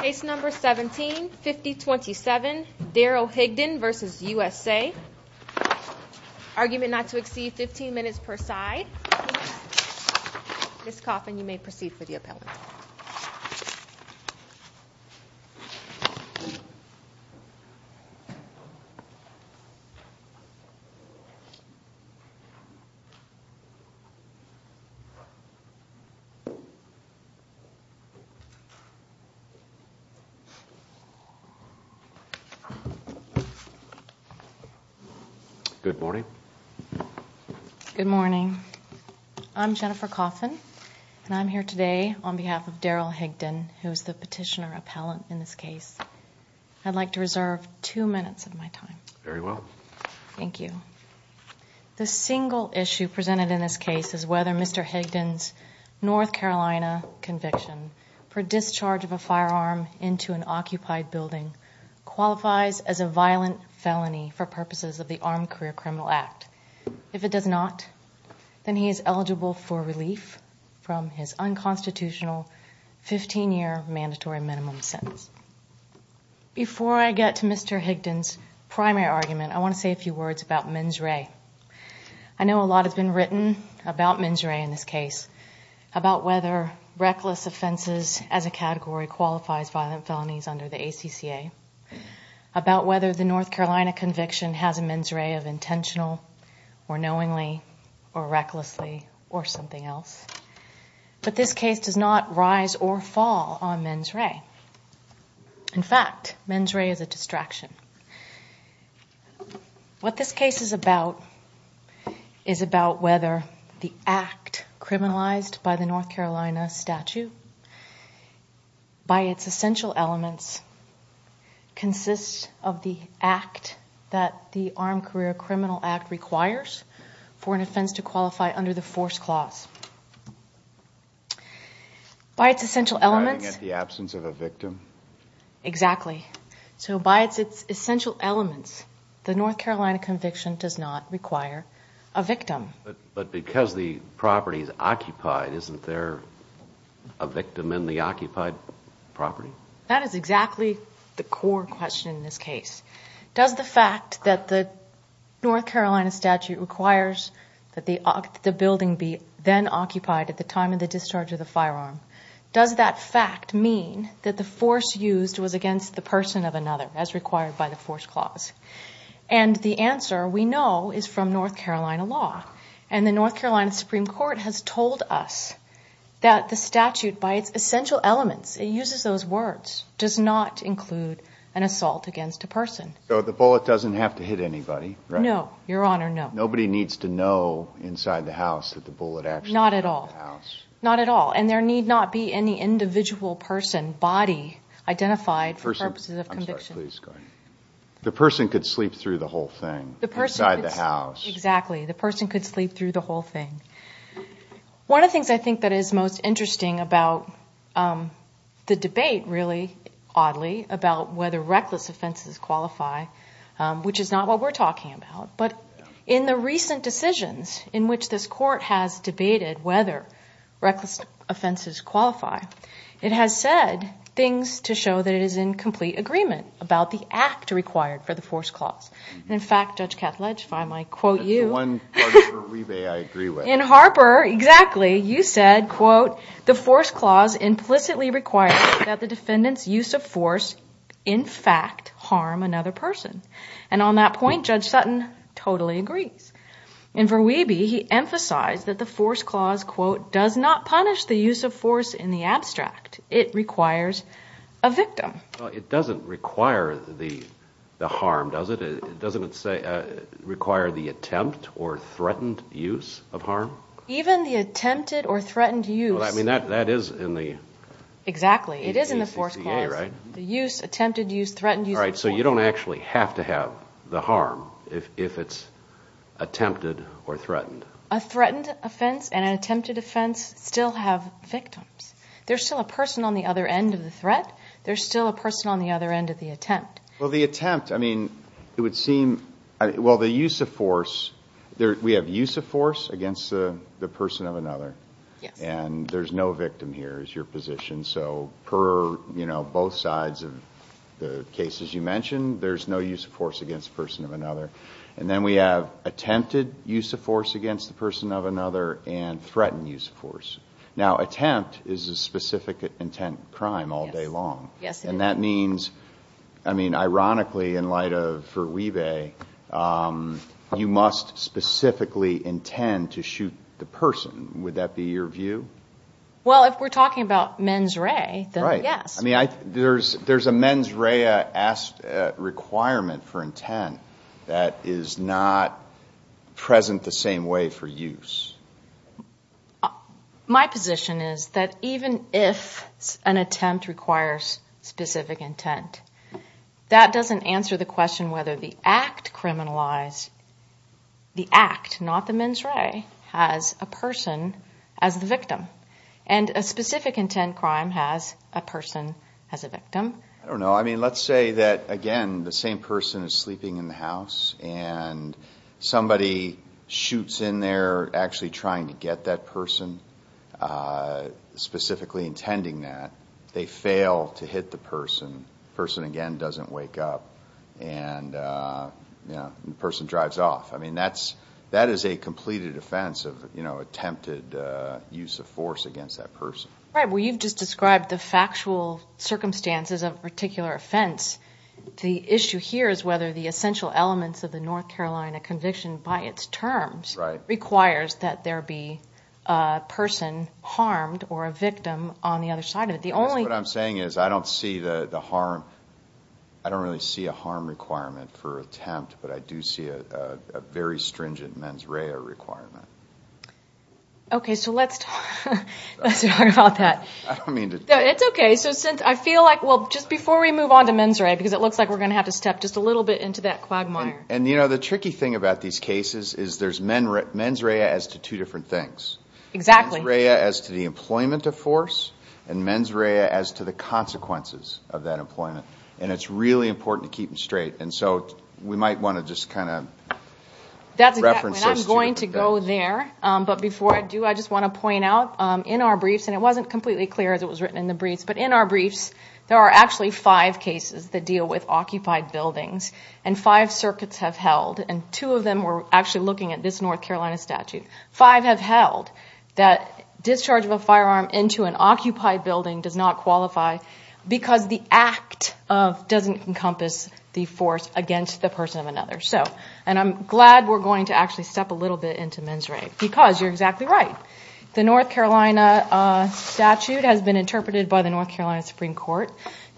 Case number 17-5027, Daryl Higdon v. USA Argument not to exceed 15 minutes per side Ms. Coffin, you may proceed for the appellant Good morning. I'm Jennifer Coffin, and I'm here today on behalf of Daryl Higdon, who is the petitioner appellant in this case. I'd like to reserve two minutes of my time. Very well. Thank you. The single issue presented in this case is whether Mr. Higdon's North Carolina conviction for discharge of a firearm into an occupied building qualifies as a violent felony for purposes of the Armed Career Criminal Act. If it does not, then he is eligible for relief from his unconstitutional 15-year mandatory minimum sentence. Before I get to Mr. Higdon's primary argument, I want to say a few words about mens re. I know a lot has been written about mens re in this case, about whether reckless offenses as a category qualifies violent felonies under the ACCA, about whether the North Carolina conviction has a mens re of intentional or knowingly or recklessly or something else. But this case does not rise or fall on mens re. In fact, mens re is a distraction. What this case is about is about whether the act criminalized by the North Carolina statute, by its essential elements, consists of the act that the Armed Career Criminal Act requires for an offense to qualify under the force clause. By its essential elements, the North Carolina conviction does not require a victim. But because the property is occupied, isn't there a victim in the occupied property? That is exactly the core question in this case. Does the fact that the North Carolina statute requires that the building be then occupied at the time of the discharge of the firearm, does that fact mean that the force used was against the person of another, as required by the force clause? And the answer, we know, is from North Carolina law. And the North Carolina Supreme Court has told us that the statute, by its essential elements, it uses those words, does not include an assault against a person. So the bullet doesn't have to hit anybody, right? No, Your Honor, no. Nobody needs to know inside the house that the bullet actually hit the house? Not at all. And there need not be any individual person, body, identified for purposes of conviction. The person could sleep through the whole thing inside the house. Exactly. The person could sleep through the whole thing. One of the things I think that is most interesting about the debate, really, oddly, about whether reckless offenses qualify, which is not what we're talking about. But in the recent decisions in which this court has debated whether reckless offenses qualify, it has said things to show that it is in complete agreement about the act required for the force clause. And in fact, Judge Katledge, if I might quote you. That's the one part of your rebate I agree with. In Harper, exactly, you said, quote, the force clause implicitly requires that the defendant's use of force, in fact, harm another person. And on that point, Judge Sutton totally agrees. In Verweebe, he emphasized that the force clause, quote, does not punish the use of force in the abstract. It requires a victim. It doesn't require the harm, does it? It doesn't require the attempt or threatened use of harm? Even the attempted or threatened use. I mean, that is in the ACCA, right? Exactly. It is in the force clause. The use, attempted use, threatened use of force. All right, so you don't actually have to have the harm if it's attempted or threatened. A threatened offense and an attempted offense still have victims. There's still a person on the other end of the threat. There's still a person on the other end of the attempt. Well, the attempt, I mean, it would seem, well, the use of force, we have use of force against the person of another. Yes. And there's no victim here is your position. So per, you know, both sides of the cases you mentioned, there's no use of force against the person of another. And then we have attempted use of force against the person of another and threatened use of force. Now, attempt is a specific intent crime all day long. Yes, it is. And that means, I mean, ironically, in light of Verweebe, you must specifically intend to shoot the person. Would that be your view? Well, if we're talking about mens rea, then yes. Right. I mean, there's a mens rea requirement for intent that is not present the same way for use. My position is that even if an attempt requires specific intent, that doesn't answer the question whether the act criminalized, the act, not the mens rea, has a person as the victim. And a specific intent crime has a person as a victim. I don't know. I mean, let's say that, again, the same person is sleeping in the house and somebody shoots in there actually trying to get that person, specifically intending that. They fail to hit the person. The person, again, doesn't wake up and the person drives off. I mean, that is a completed offense of attempted use of force against that person. Right. Well, you've just described the factual circumstances of a particular offense. The issue here is whether the essential elements of the North Carolina conviction, by its terms, requires that there be a person harmed or a victim on the other side of it. What I'm saying is I don't see the harm. I don't really see a harm requirement for attempt, but I do see a very stringent mens rea requirement. Okay, so let's talk about that. It's okay. I feel like, well, just before we move on to mens rea, because it looks like we're going to have to step just a little bit into that quagmire. And, you know, the tricky thing about these cases is there's mens rea as to two different things. There's mens rea as to the employment of force and mens rea as to the consequences of that employment. And it's really important to keep them straight. And so we might want to just kind of reference this to you. I'm going to go there. But before I do, I just want to point out in our briefs, and it wasn't completely clear as it was written in the briefs, but in our briefs, there are actually five cases that deal with occupied buildings. And five circuits have held. And two of them were actually looking at this North Carolina statute. Five have held that discharge of a firearm into an occupied building does not qualify because the act doesn't encompass the force against the person of another. And I'm glad we're going to actually step a little bit into mens rea because you're exactly right. The North Carolina statute has been interpreted by the North Carolina Supreme Court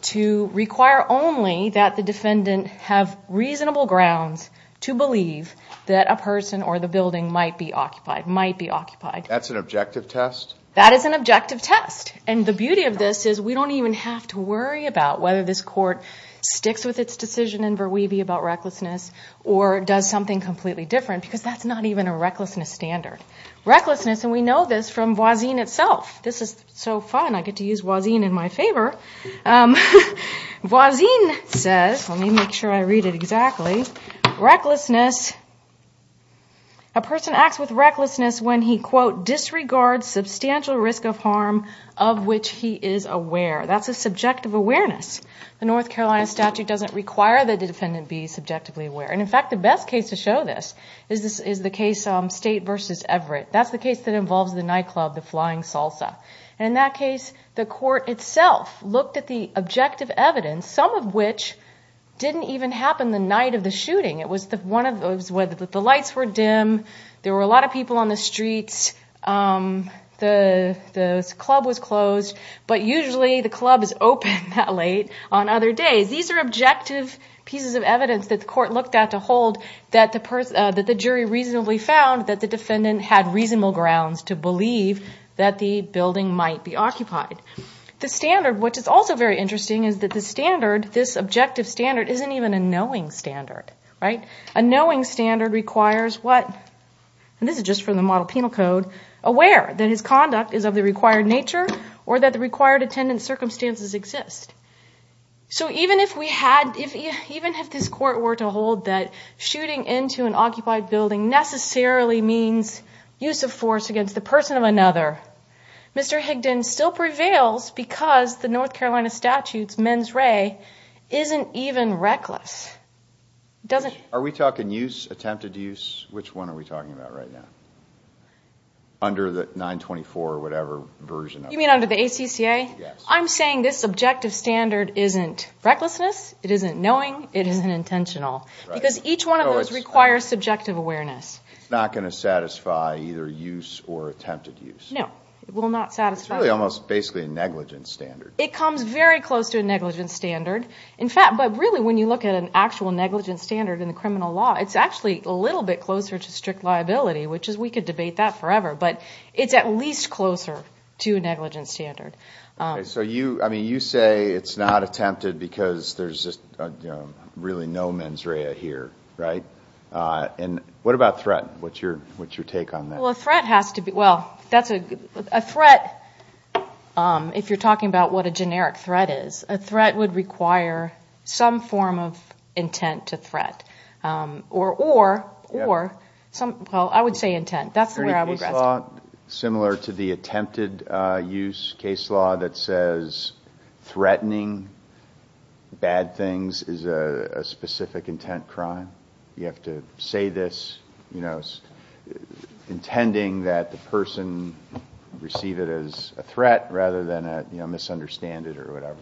to require only that the defendant have reasonable grounds to believe that a person or the building might be occupied, might be occupied. That's an objective test? That is an objective test. And the beauty of this is we don't even have to worry about whether this court sticks with its decision in Verweeby about recklessness or does something completely different because that's not even a recklessness standard. Recklessness, and we know this from Voisin itself. This is so fun. I get to use Voisin in my favor. Voisin says, let me make sure I read it exactly. Recklessness, a person acts with recklessness when he, quote, disregards substantial risk of harm of which he is aware. That's a subjective awareness. The North Carolina statute doesn't require that the defendant be subjectively aware. And in fact, the best case to show this is the case State v. Everett. That's the case that involves the nightclub, the Flying Salsa. And in that case, the court itself looked at the objective evidence, some of which didn't even happen the night of the shooting. It was one of those where the lights were dim. There were a lot of people on the streets. The club was closed. But usually the club is open that late on other days. These are objective pieces of evidence that the court looked at to hold that the jury reasonably found that the defendant had reasonable grounds to believe that the building might be occupied. The standard, which is also very interesting, is that the standard, this objective standard, isn't even a knowing standard. A knowing standard requires what? And this is just from the model penal code. Aware that his conduct is of the required nature or that the required attendance circumstances exist. So even if we had, even if this court were to hold that shooting into an occupied building necessarily means use of force against the person of another, Mr. Higdon still prevails because the North Carolina statute's mens re isn't even reckless. Are we talking use, attempted use? Which one are we talking about right now? Under the 924 or whatever version of it. You mean under the ACCA? I'm saying this objective standard isn't recklessness, it isn't knowing, it isn't intentional. Because each one of those requires subjective awareness. It's not going to satisfy either use or attempted use. No, it will not satisfy. It's really almost basically a negligent standard. It comes very close to a negligent standard. In fact, but really when you look at an actual negligent standard in the criminal law, it's actually a little bit closer to strict liability, which is we could debate that forever. But it's at least closer to a negligent standard. So you, I mean, you say it's not attempted because there's just really no mens re here, right? And what about threat? What's your take on that? Well, a threat has to be, well, a threat, if you're talking about what a generic threat is, a threat would require some form of intent to threat. Or, well, I would say intent. That's where I would rest. Similar to the attempted use case law that says threatening bad things is a specific intent crime? You have to say this, you know, intending that the person receive it as a threat rather than a, you know, misunderstand it or whatever.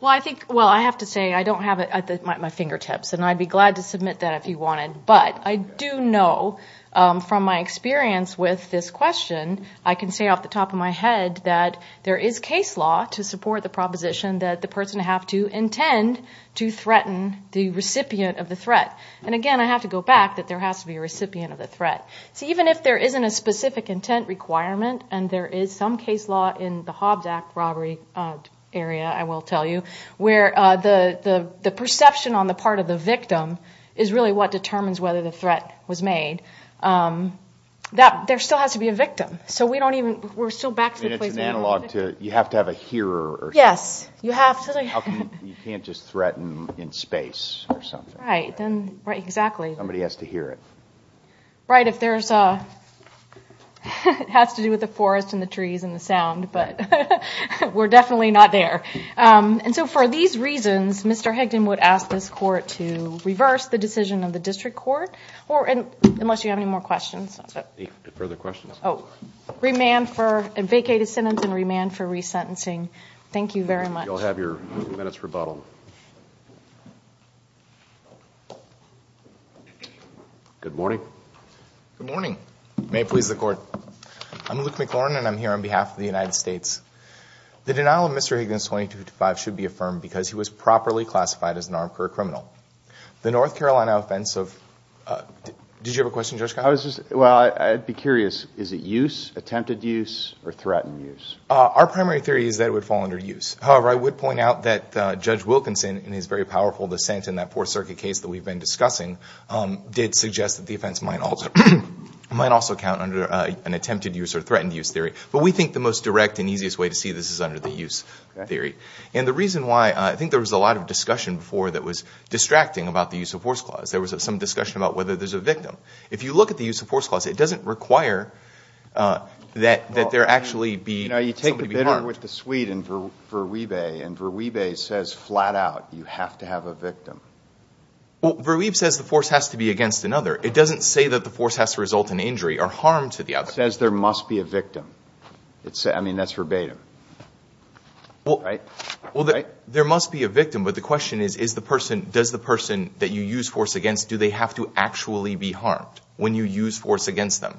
Well, I think, well, I have to say, I don't have it at my fingertips. And I'd be glad to submit that if you wanted. But I do know from my experience with this question, I can say off the top of my head that there is case law to threaten the recipient of the threat. And, again, I have to go back that there has to be a recipient of the threat. See, even if there isn't a specific intent requirement, and there is some case law in the Hobbs Act robbery area, I will tell you, where the perception on the part of the victim is really what determines whether the threat was made, there still has to be a victim. So we don't even, we're still back to the place where we were. I mean, it's an analog to, you have to have a hearer. Yes, you have to. You can't just threaten in space or something. Exactly. Somebody has to hear it. Right, if there's a, it has to do with the forest and the trees and the sound, but we're definitely not there. And so for these reasons, Mr. Higdon would ask this court to reverse the decision of the district court, or, unless you have any more questions. Any further questions? Oh, remand for a vacated sentence and remand for resentencing. Thank you very much. You'll have your minutes rebuttaled. Good morning. Good morning. May it please the court. I'm Luke McLaurin, and I'm here on behalf of the United States. The denial of Mr. Higdon's 2255 should be affirmed because he was properly classified as an armed career criminal. The North Carolina offense of, did you have a question, Judge Kyle? I was just, well, I'd be curious. Is it use, attempted use, or threatened use? Our primary theory is that it would fall under use. However, I would point out that Judge Wilkinson in his very powerful dissent in that Fourth Circuit case that we've been discussing did suggest that the offense might also, might also count under an attempted use or threatened use theory. But we think the most direct and easiest way to see this is under the use theory. And the reason why, I think there was a lot of discussion before that was distracting about the use of force clause. There was some discussion about whether there's a victim. If you look at the use of force clause, it doesn't require that there actually be, somebody be harmed. You know, you take the bitter with the sweet in Verweebe, and Verweebe says flat out, you have to have a victim. The force has to be against another. It doesn't say that the force has to result in injury or harm to the other. It says there must be a victim. I mean, that's verbatim. Well, there must be a victim, but the question is, does the person that you use force against, do they have to actually be harmed when you use force against them?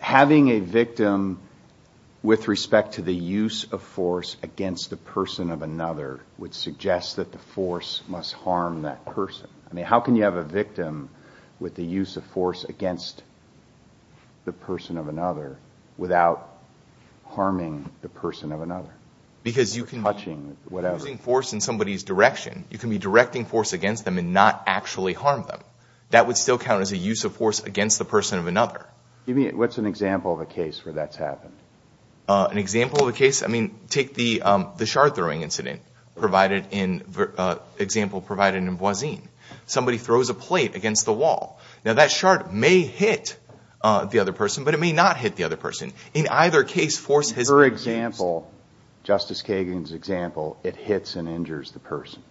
having a victim with respect to the use of force against the person of another means that the force must harm that person. I mean, how can you have a victim with the use of force against the person of another without harming the person of another? Because you can be using force in somebody's direction. You can be directing force against them and not actually harm them. That would still count as a use of force against the person of another. What's an example of a case where that's happened? An example of a case? I mean, take the shard-throwing incident provided in, example provided in Boisin. Somebody throws a plate against the wall. Now, that shard may hit the other person, but it may not hit the other person. In either case, force has been used. In her example, Justice Kagan's example, it hits and injures the person.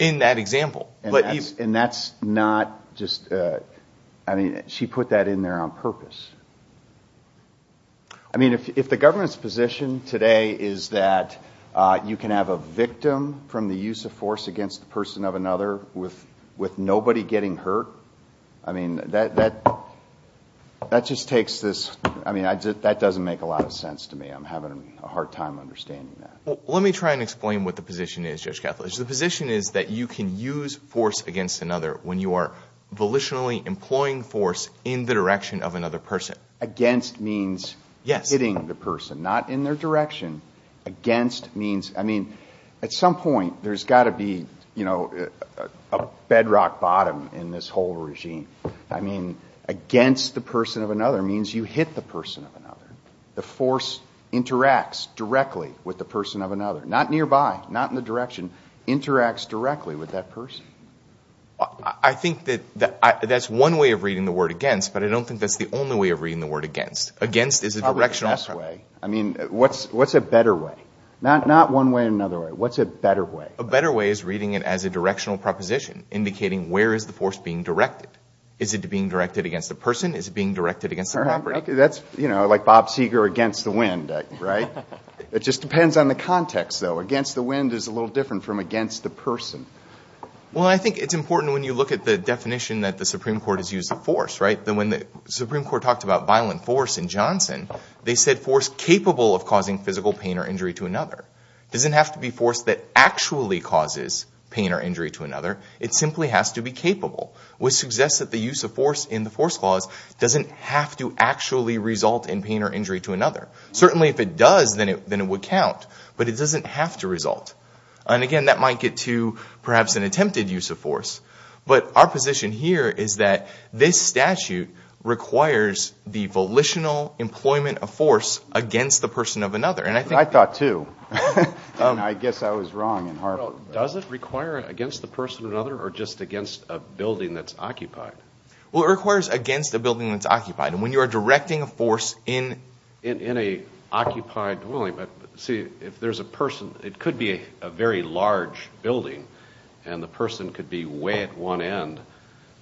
In that example. And that's not just, I mean, she put that in there on purpose. I mean, if the government's position today is that you can have a victim from the use of force against the person of another with nobody getting hurt, I mean, that just takes this, I mean, that doesn't make a lot of sense to me. I'm having a hard time understanding that. Well, let me try and explain what the position is, Judge Kethledge. The position is that you can use force against another when you are volitionally employing force in the direction of another person. Against means hitting the person, not in their direction. Against means, I mean, at some point, there's got to be, you know, a bedrock bottom in this whole regime. I mean, against the person of another means you hit the person of another. The force interacts directly with the person of another, not nearby, not in the direction, interacts directly with that person. I think that that's one way of reading the word against, but I don't think that's the only way of reading the word against. I mean, what's a better way? Not one way or another way. What's a better way? A better way is reading it as a directional proposition, indicating where is the force being directed. Is it being directed against the person? Is it being directed against the property? That's, you know, like Bob Seger against the wind, right? It just depends on the context, though. Against the wind is a little different from against the person. Well, I think it's important when you look at the definition that the Supreme Court has used of force, right, that when the Supreme Court talked about being capable of causing physical pain or injury to another, it doesn't have to be force that actually causes pain or injury to another. It simply has to be capable, which suggests that the use of force in the force clause doesn't have to actually result in pain or injury to another. Certainly if it does, then it would count, but it doesn't have to result. And again, that might get to perhaps an attempted use of force, but our position here is that this statute requires the volitional employment of force against the person of another. I thought too. I guess I was wrong in Harvard. Does it require against the person of another or just against a building that's occupied? Well, it requires against a building that's occupied. And when you are directing a force in... In an occupied dwelling. But see, if there's a person, it could be a very large building, and the person could be way at one end,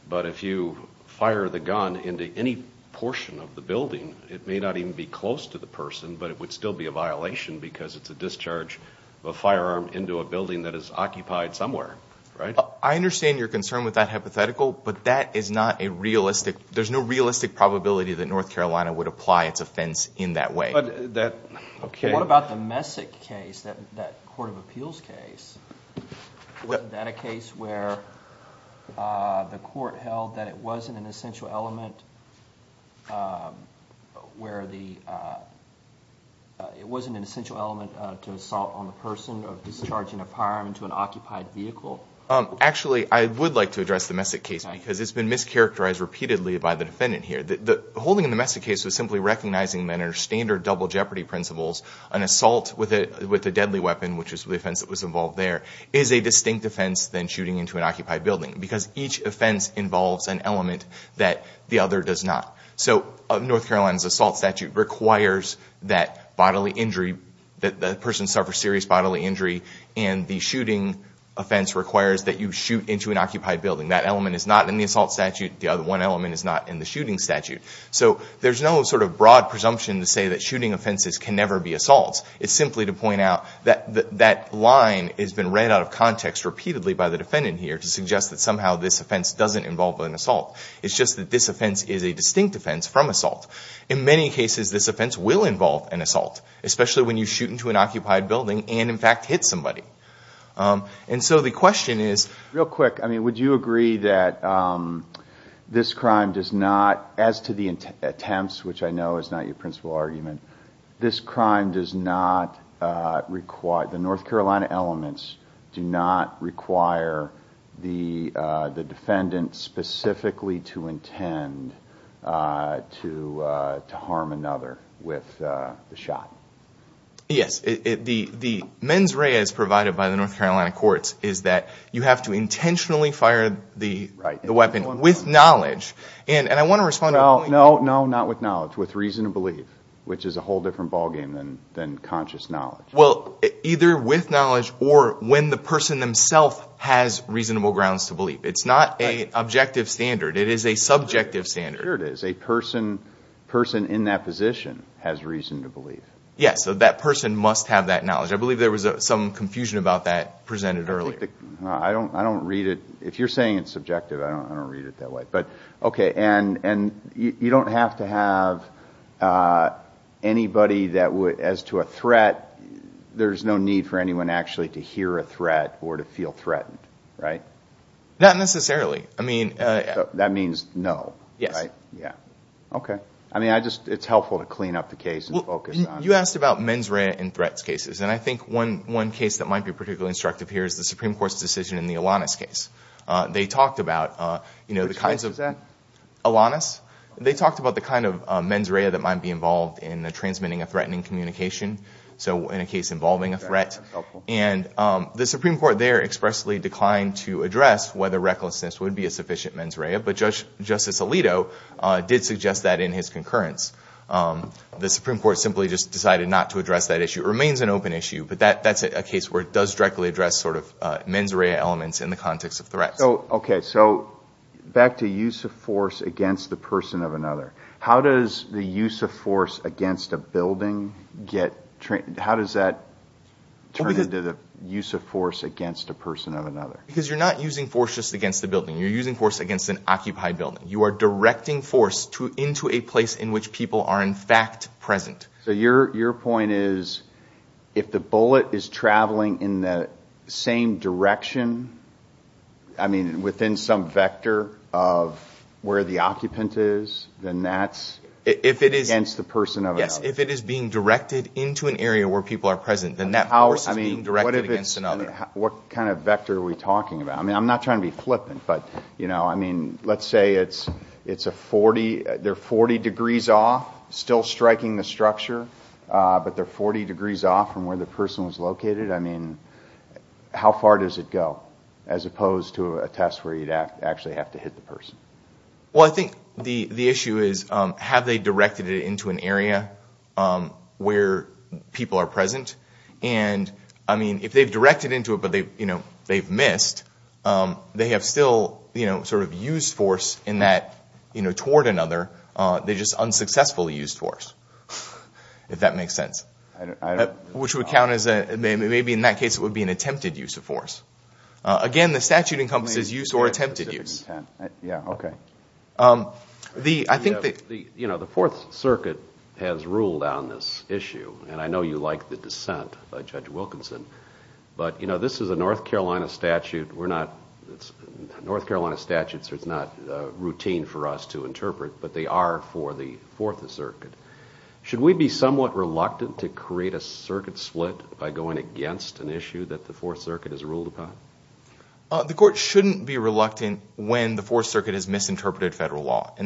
but if you fire the gun into any portion of the building, it may not even be close to the person, but it would still be a violation because it's a discharge of a firearm into a building that is occupied somewhere, right? I understand your concern with that hypothetical, but that is not a realistic... There's no realistic probability that North Carolina would apply its offense in that way. But that... Okay. What about the Messick case, that Court of Appeals case? Was that a case where the court held that it wasn't an essential element to assault on the person of discharging a firearm into an occupied vehicle? Actually, I would like to address the Messick case because it's been mischaracterized repeatedly by the defendant here. The holding of the Messick case was simply recognizing that under standard double jeopardy principles, an assault with a deadly weapon, which is the offense that was involved there, is a distinct offense than shooting into an occupied building because each offense involves an element that the other does not. So North Carolina's assault statute requires that bodily injury, that the person suffers serious bodily injury, and the shooting offense requires that you shoot into an occupied building. That element is not in the assault statute. The other one element is not in the shooting statute. So there's no sort of broad presumption to say that shooting offenses can never be assaults. It's simply to point out that that line has been read out of context repeatedly by the defendant here to suggest that somehow this offense doesn't involve an assault. It's just that this offense is a distinct offense from assault. In many cases, this offense will involve an assault, especially when you shoot into an occupied building and, in fact, hit somebody. And so the question is... Real quick, I mean, would you agree that this crime does not, as to the attempts, which I know is not your principal argument, this crime does not require, the North Carolina elements do not require the defendant specifically to intend to harm another with the shot? Yes. The mens rea as provided by the North Carolina courts is that you have to intentionally fire the weapon with knowledge. And I want to respond... No, no, not with knowledge. With reason to believe, which is a whole different ballgame than conscious knowledge. Well, either with knowledge or when the person themselves has reasonable grounds to believe. It's not an objective standard. It is a subjective standard. Sure it is. A person in that position has reason to believe. Yes, so that person must have that knowledge. I believe there was some confusion about that presented earlier. I don't read it... If you're saying it's subjective, I don't read it that way. As to a threat, there's no need for anyone actually to hear a threat or to feel threatened, right? Not necessarily. That means no, right? Yes. Okay. It's helpful to clean up the case and focus on... You asked about mens rea and threats cases. And I think one case that might be particularly instructive here is the Supreme Court's decision in the Alanis case. Which case was that? It was a case involving communication. So in a case involving a threat. And the Supreme Court there expressly declined to address whether recklessness would be a sufficient mens rea. But Justice Alito did suggest that in his concurrence. The Supreme Court simply just decided not to address that issue. It remains an open issue, but that's a case where it does directly address sort of mens rea elements in the context of threats. Okay, so back to use of force against the person of another. How does that turn into the use of force against a person of another? Because you're not using force just against the building. You're using force against an occupied building. You are directing force into a place in which people are in fact present. So your point is if the bullet is traveling in the same direction, I mean within some vector of where the occupant is, then that's against the person of another. Yes, if it is being directed into an area where people are present, then that force is being directed against another. What kind of vector are we talking about? I mean, I'm not trying to be flippant, but let's say it's a 40, they're 40 degrees off, still striking the structure, but they're 40 degrees off from where the person was located. I mean, how far does it go as opposed to a test where you'd actually have to hit the person? Well, I think the issue is have they directed it into an area where people are present? And, I mean, if they've directed into it, but they've missed, they have still sort of used force in that toward another. They just unsuccessfully used force, if that makes sense, which would count as a, maybe in that case it would be an attempted use of force. Again, the statute encompasses use or attempted use. Yeah, okay. I think the Fourth Circuit has ruled on this issue, and I know you like the dissent by Judge Wilkinson, but this is a North Carolina statute. We're not, North Carolina statutes are not routine for us to interpret, but they are for the Fourth Circuit. Should we be somewhat reluctant to create a circuit split by going against an issue that the Fourth Circuit has ruled upon? The court shouldn't be reluctant when the Fourth Circuit has misinterpreted federal law, the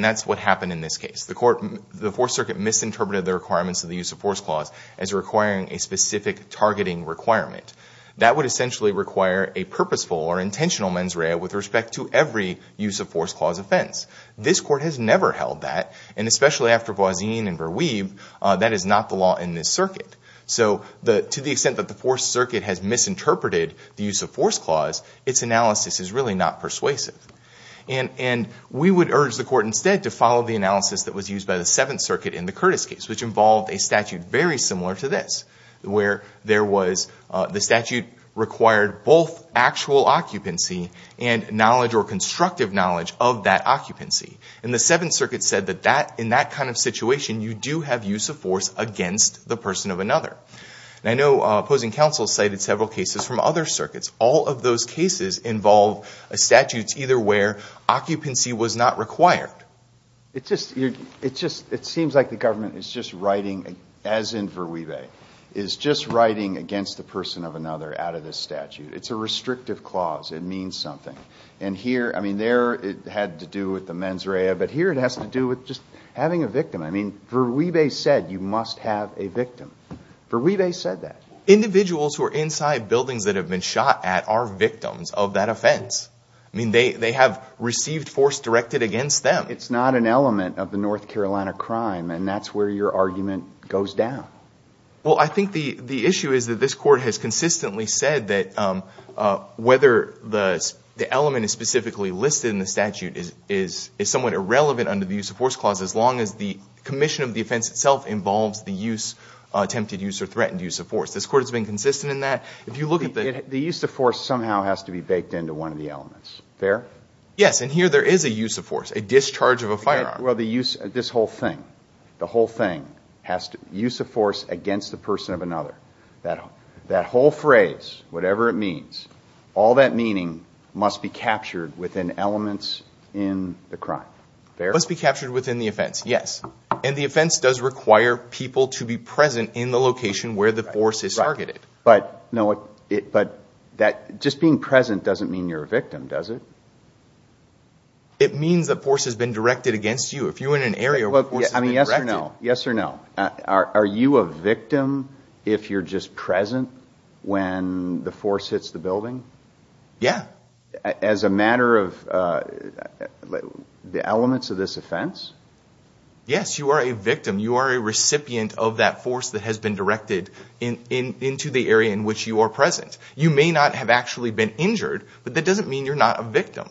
requirements of the use of force clause, as requiring a specific targeting requirement. That would essentially require a purposeful or intentional mens rea with respect to every use of force clause offense. This court has never held that, and especially after Boisin and Verweeb, that is not the law in this circuit. So to the extent that the Fourth Circuit has misinterpreted the use of force clause, its analysis is really not persuasive. And we would urge the court instead to follow the analysis that was used by the Seventh Circuit in the Curtis case, which involved a statute very similar to this, where there was, the statute required both actual occupancy and knowledge or constructive knowledge of that occupancy. And the Seventh Circuit said that in that kind of situation, you do have use of force against the person of another. And I know opposing counsel cited several cases from other circuits. All of those cases involve statutes either where occupancy was not required. It seems like the government is just writing, as in Verweeb, is just writing against the person of another out of this statute. It's a restrictive clause. It means something. And here, I mean, there it had to do with the mens rea, but here it has to do with just having a victim. I mean, Verweeb said you must have a victim. Verweeb said that. Individuals who are inside buildings that have been shot at are victims of that offense. That's a North Carolina crime. And that's where your argument goes down. Well, I think the issue is that this Court has consistently said that whether the element is specifically listed in the statute is somewhat irrelevant under the use of force clause as long as the commission of the offense itself involves the use, attempted use or threatened use of force. This Court has been consistent in that. If you look at the... The use of force somehow has to be baked into one of the elements. Fair? Yes. And here there is a use of force, a discharge of a firearm. Well, the use... This whole thing, the whole thing has to... Use of force against the person of another. That whole phrase, whatever it means, all that meaning must be captured within elements in the crime. Fair? Must be captured within the offense. Yes. And the offense does require people to be present in the location where the force is targeted. Right. But, no, it... But that... Just being present doesn't mean you're a victim, does it? It means that force has been directed against you. If you're in an area where force has been directed... I mean, yes or no? Yes or no? Are you a victim if you're just present when the force hits the building? Yeah. As a matter of... The elements of this offense? Yes, you are a victim. You are a recipient of that force that has been directed into the area in which you are present. You may not have actually been injured, but that doesn't mean you're not a victim.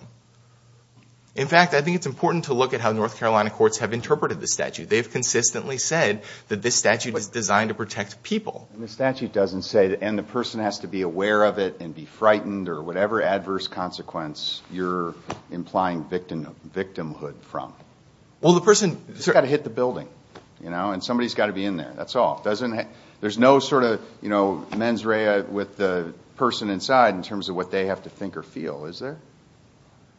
In fact, I think it's important to look at how North Carolina courts have interpreted this statute. They've consistently said that this statute is designed to protect people. The statute doesn't say and the person has to be aware of it and be frightened or whatever adverse consequence you're implying victimhood from. Well, the person... He's got to hit the building, you know, and somebody's got to be in there. That's all. There's no sort of, you know, mens rea with the person inside in terms of what they have to think or feel. Is there?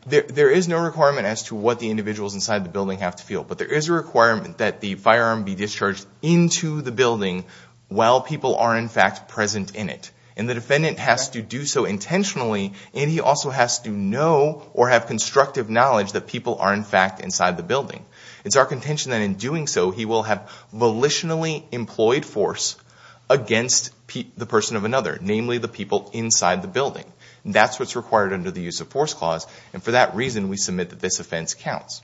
There is no requirement as to what the individuals inside the building have to feel, but there is a requirement that the firearm be discharged into the building while people are, in fact, present in it. And the defendant has to do so intentionally and he also has to know or have constructive knowledge that people are, in fact, inside the building. It's our contention that in doing so, he will have volitionally employed force against the person of another, namely the people inside the building. That's what's required under the Use of Force Clause and for that reason, we submit that this offense counts.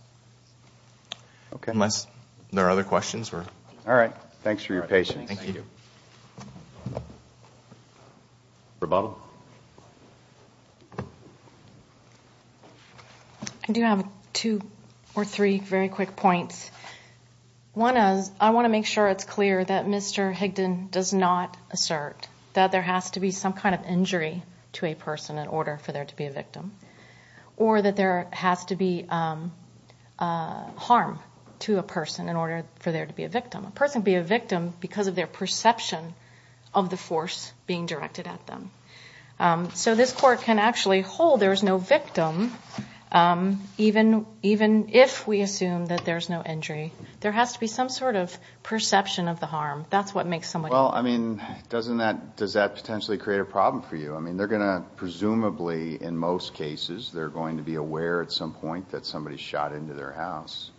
Okay. Unless there are other questions? All right. Thanks for your patience. Thank you. Rebuttal? I do have two or three very quick points. One is I want to make sure it's clear that Mr. Higdon does not assert that there has to be some kind of injury to a person in order for there to be a victim or that there has to be harm to a person in order for there to be a victim. A person can be a victim because of their perception of the force being directed at them. So this court can actually hold there is no victim even if we assume that there is no injury. There has to be some sort of perception of the harm. That's what makes someone... Well, I mean, doesn't that... Does that potentially create a problem for you? I mean, they're going to presumably in most cases they're going to be aware at some point that somebody shot into their house.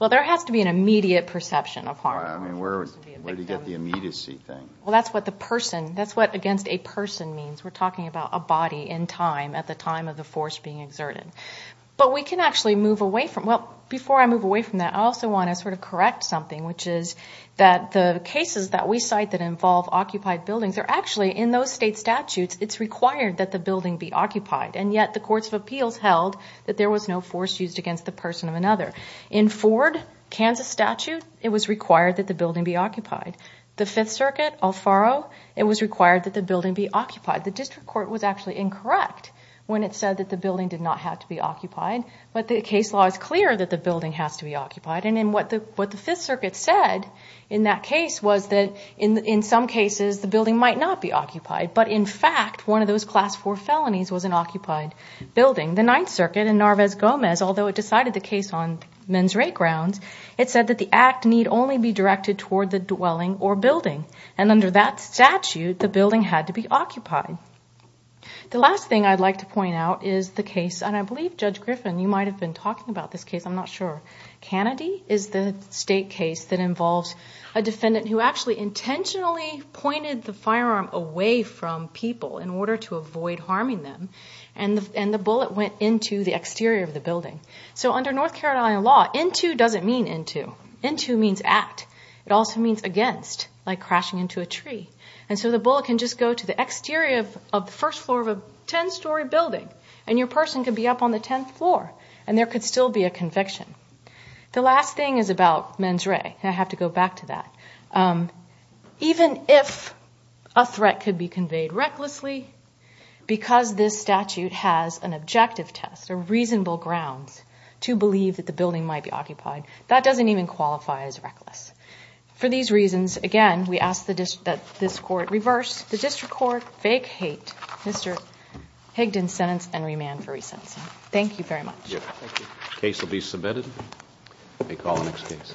Well, there has to be an immediate perception of harm. Where do you get the immediacy thing? Well, that's what the person... That's what against a person means. We're talking about a body in time at the time of the force being exerted. But we can actually move away from... Well, before I move away from that, I also want to sort of correct something which is that the cases that we cite that involve occupied buildings are actually in those state statutes it's required that the building be occupied. And yet the courts of appeals held that there was no force used against the person of another. In Ford, Kansas statute, it was required that the building be occupied. The Fifth Circuit, Alfaro, it was required that the building be occupied. The district court was actually incorrect when it said that the building did not have to be occupied. But the case law is clear that the building has to be occupied. And what the Fifth Circuit said in that case was that in some cases the building might not be occupied. But in fact, one of those class four felonies was an occupied building. The Ninth Circuit in Narvaez-Gomez, although it decided the case on men's rate grounds, it said that the act need only be directed toward the dwelling or building. And under that statute, the building had to be occupied. The last thing I'd like to point out is the case, and I believe, Judge Griffin, you might have been talking about this case. I'm not sure. Cannady is the state case that involves a defendant who actually intentionally pointed the firearm away from people in order to avoid harming them. And the bullet went into the exterior of the building. So under North Carolina law, into doesn't mean into. Into means at. It also means against, like crashing into a tree. And so the bullet can just go to the exterior of the first floor of a 10-story building, and your person could be up on the 10th floor, and there could still be a conviction. The last thing is about men's rate, and I have to go back to that. Even if a threat could be conveyed recklessly, because this statute has an objective test, a reasonable grounds to believe that the building might be occupied, that doesn't even qualify as reckless. For these reasons, again, we ask that this Court reverse the district court fake hate Mr. Higdon's sentence and remand for resentencing. Thank you very much. The case will be submitted. We call the next case.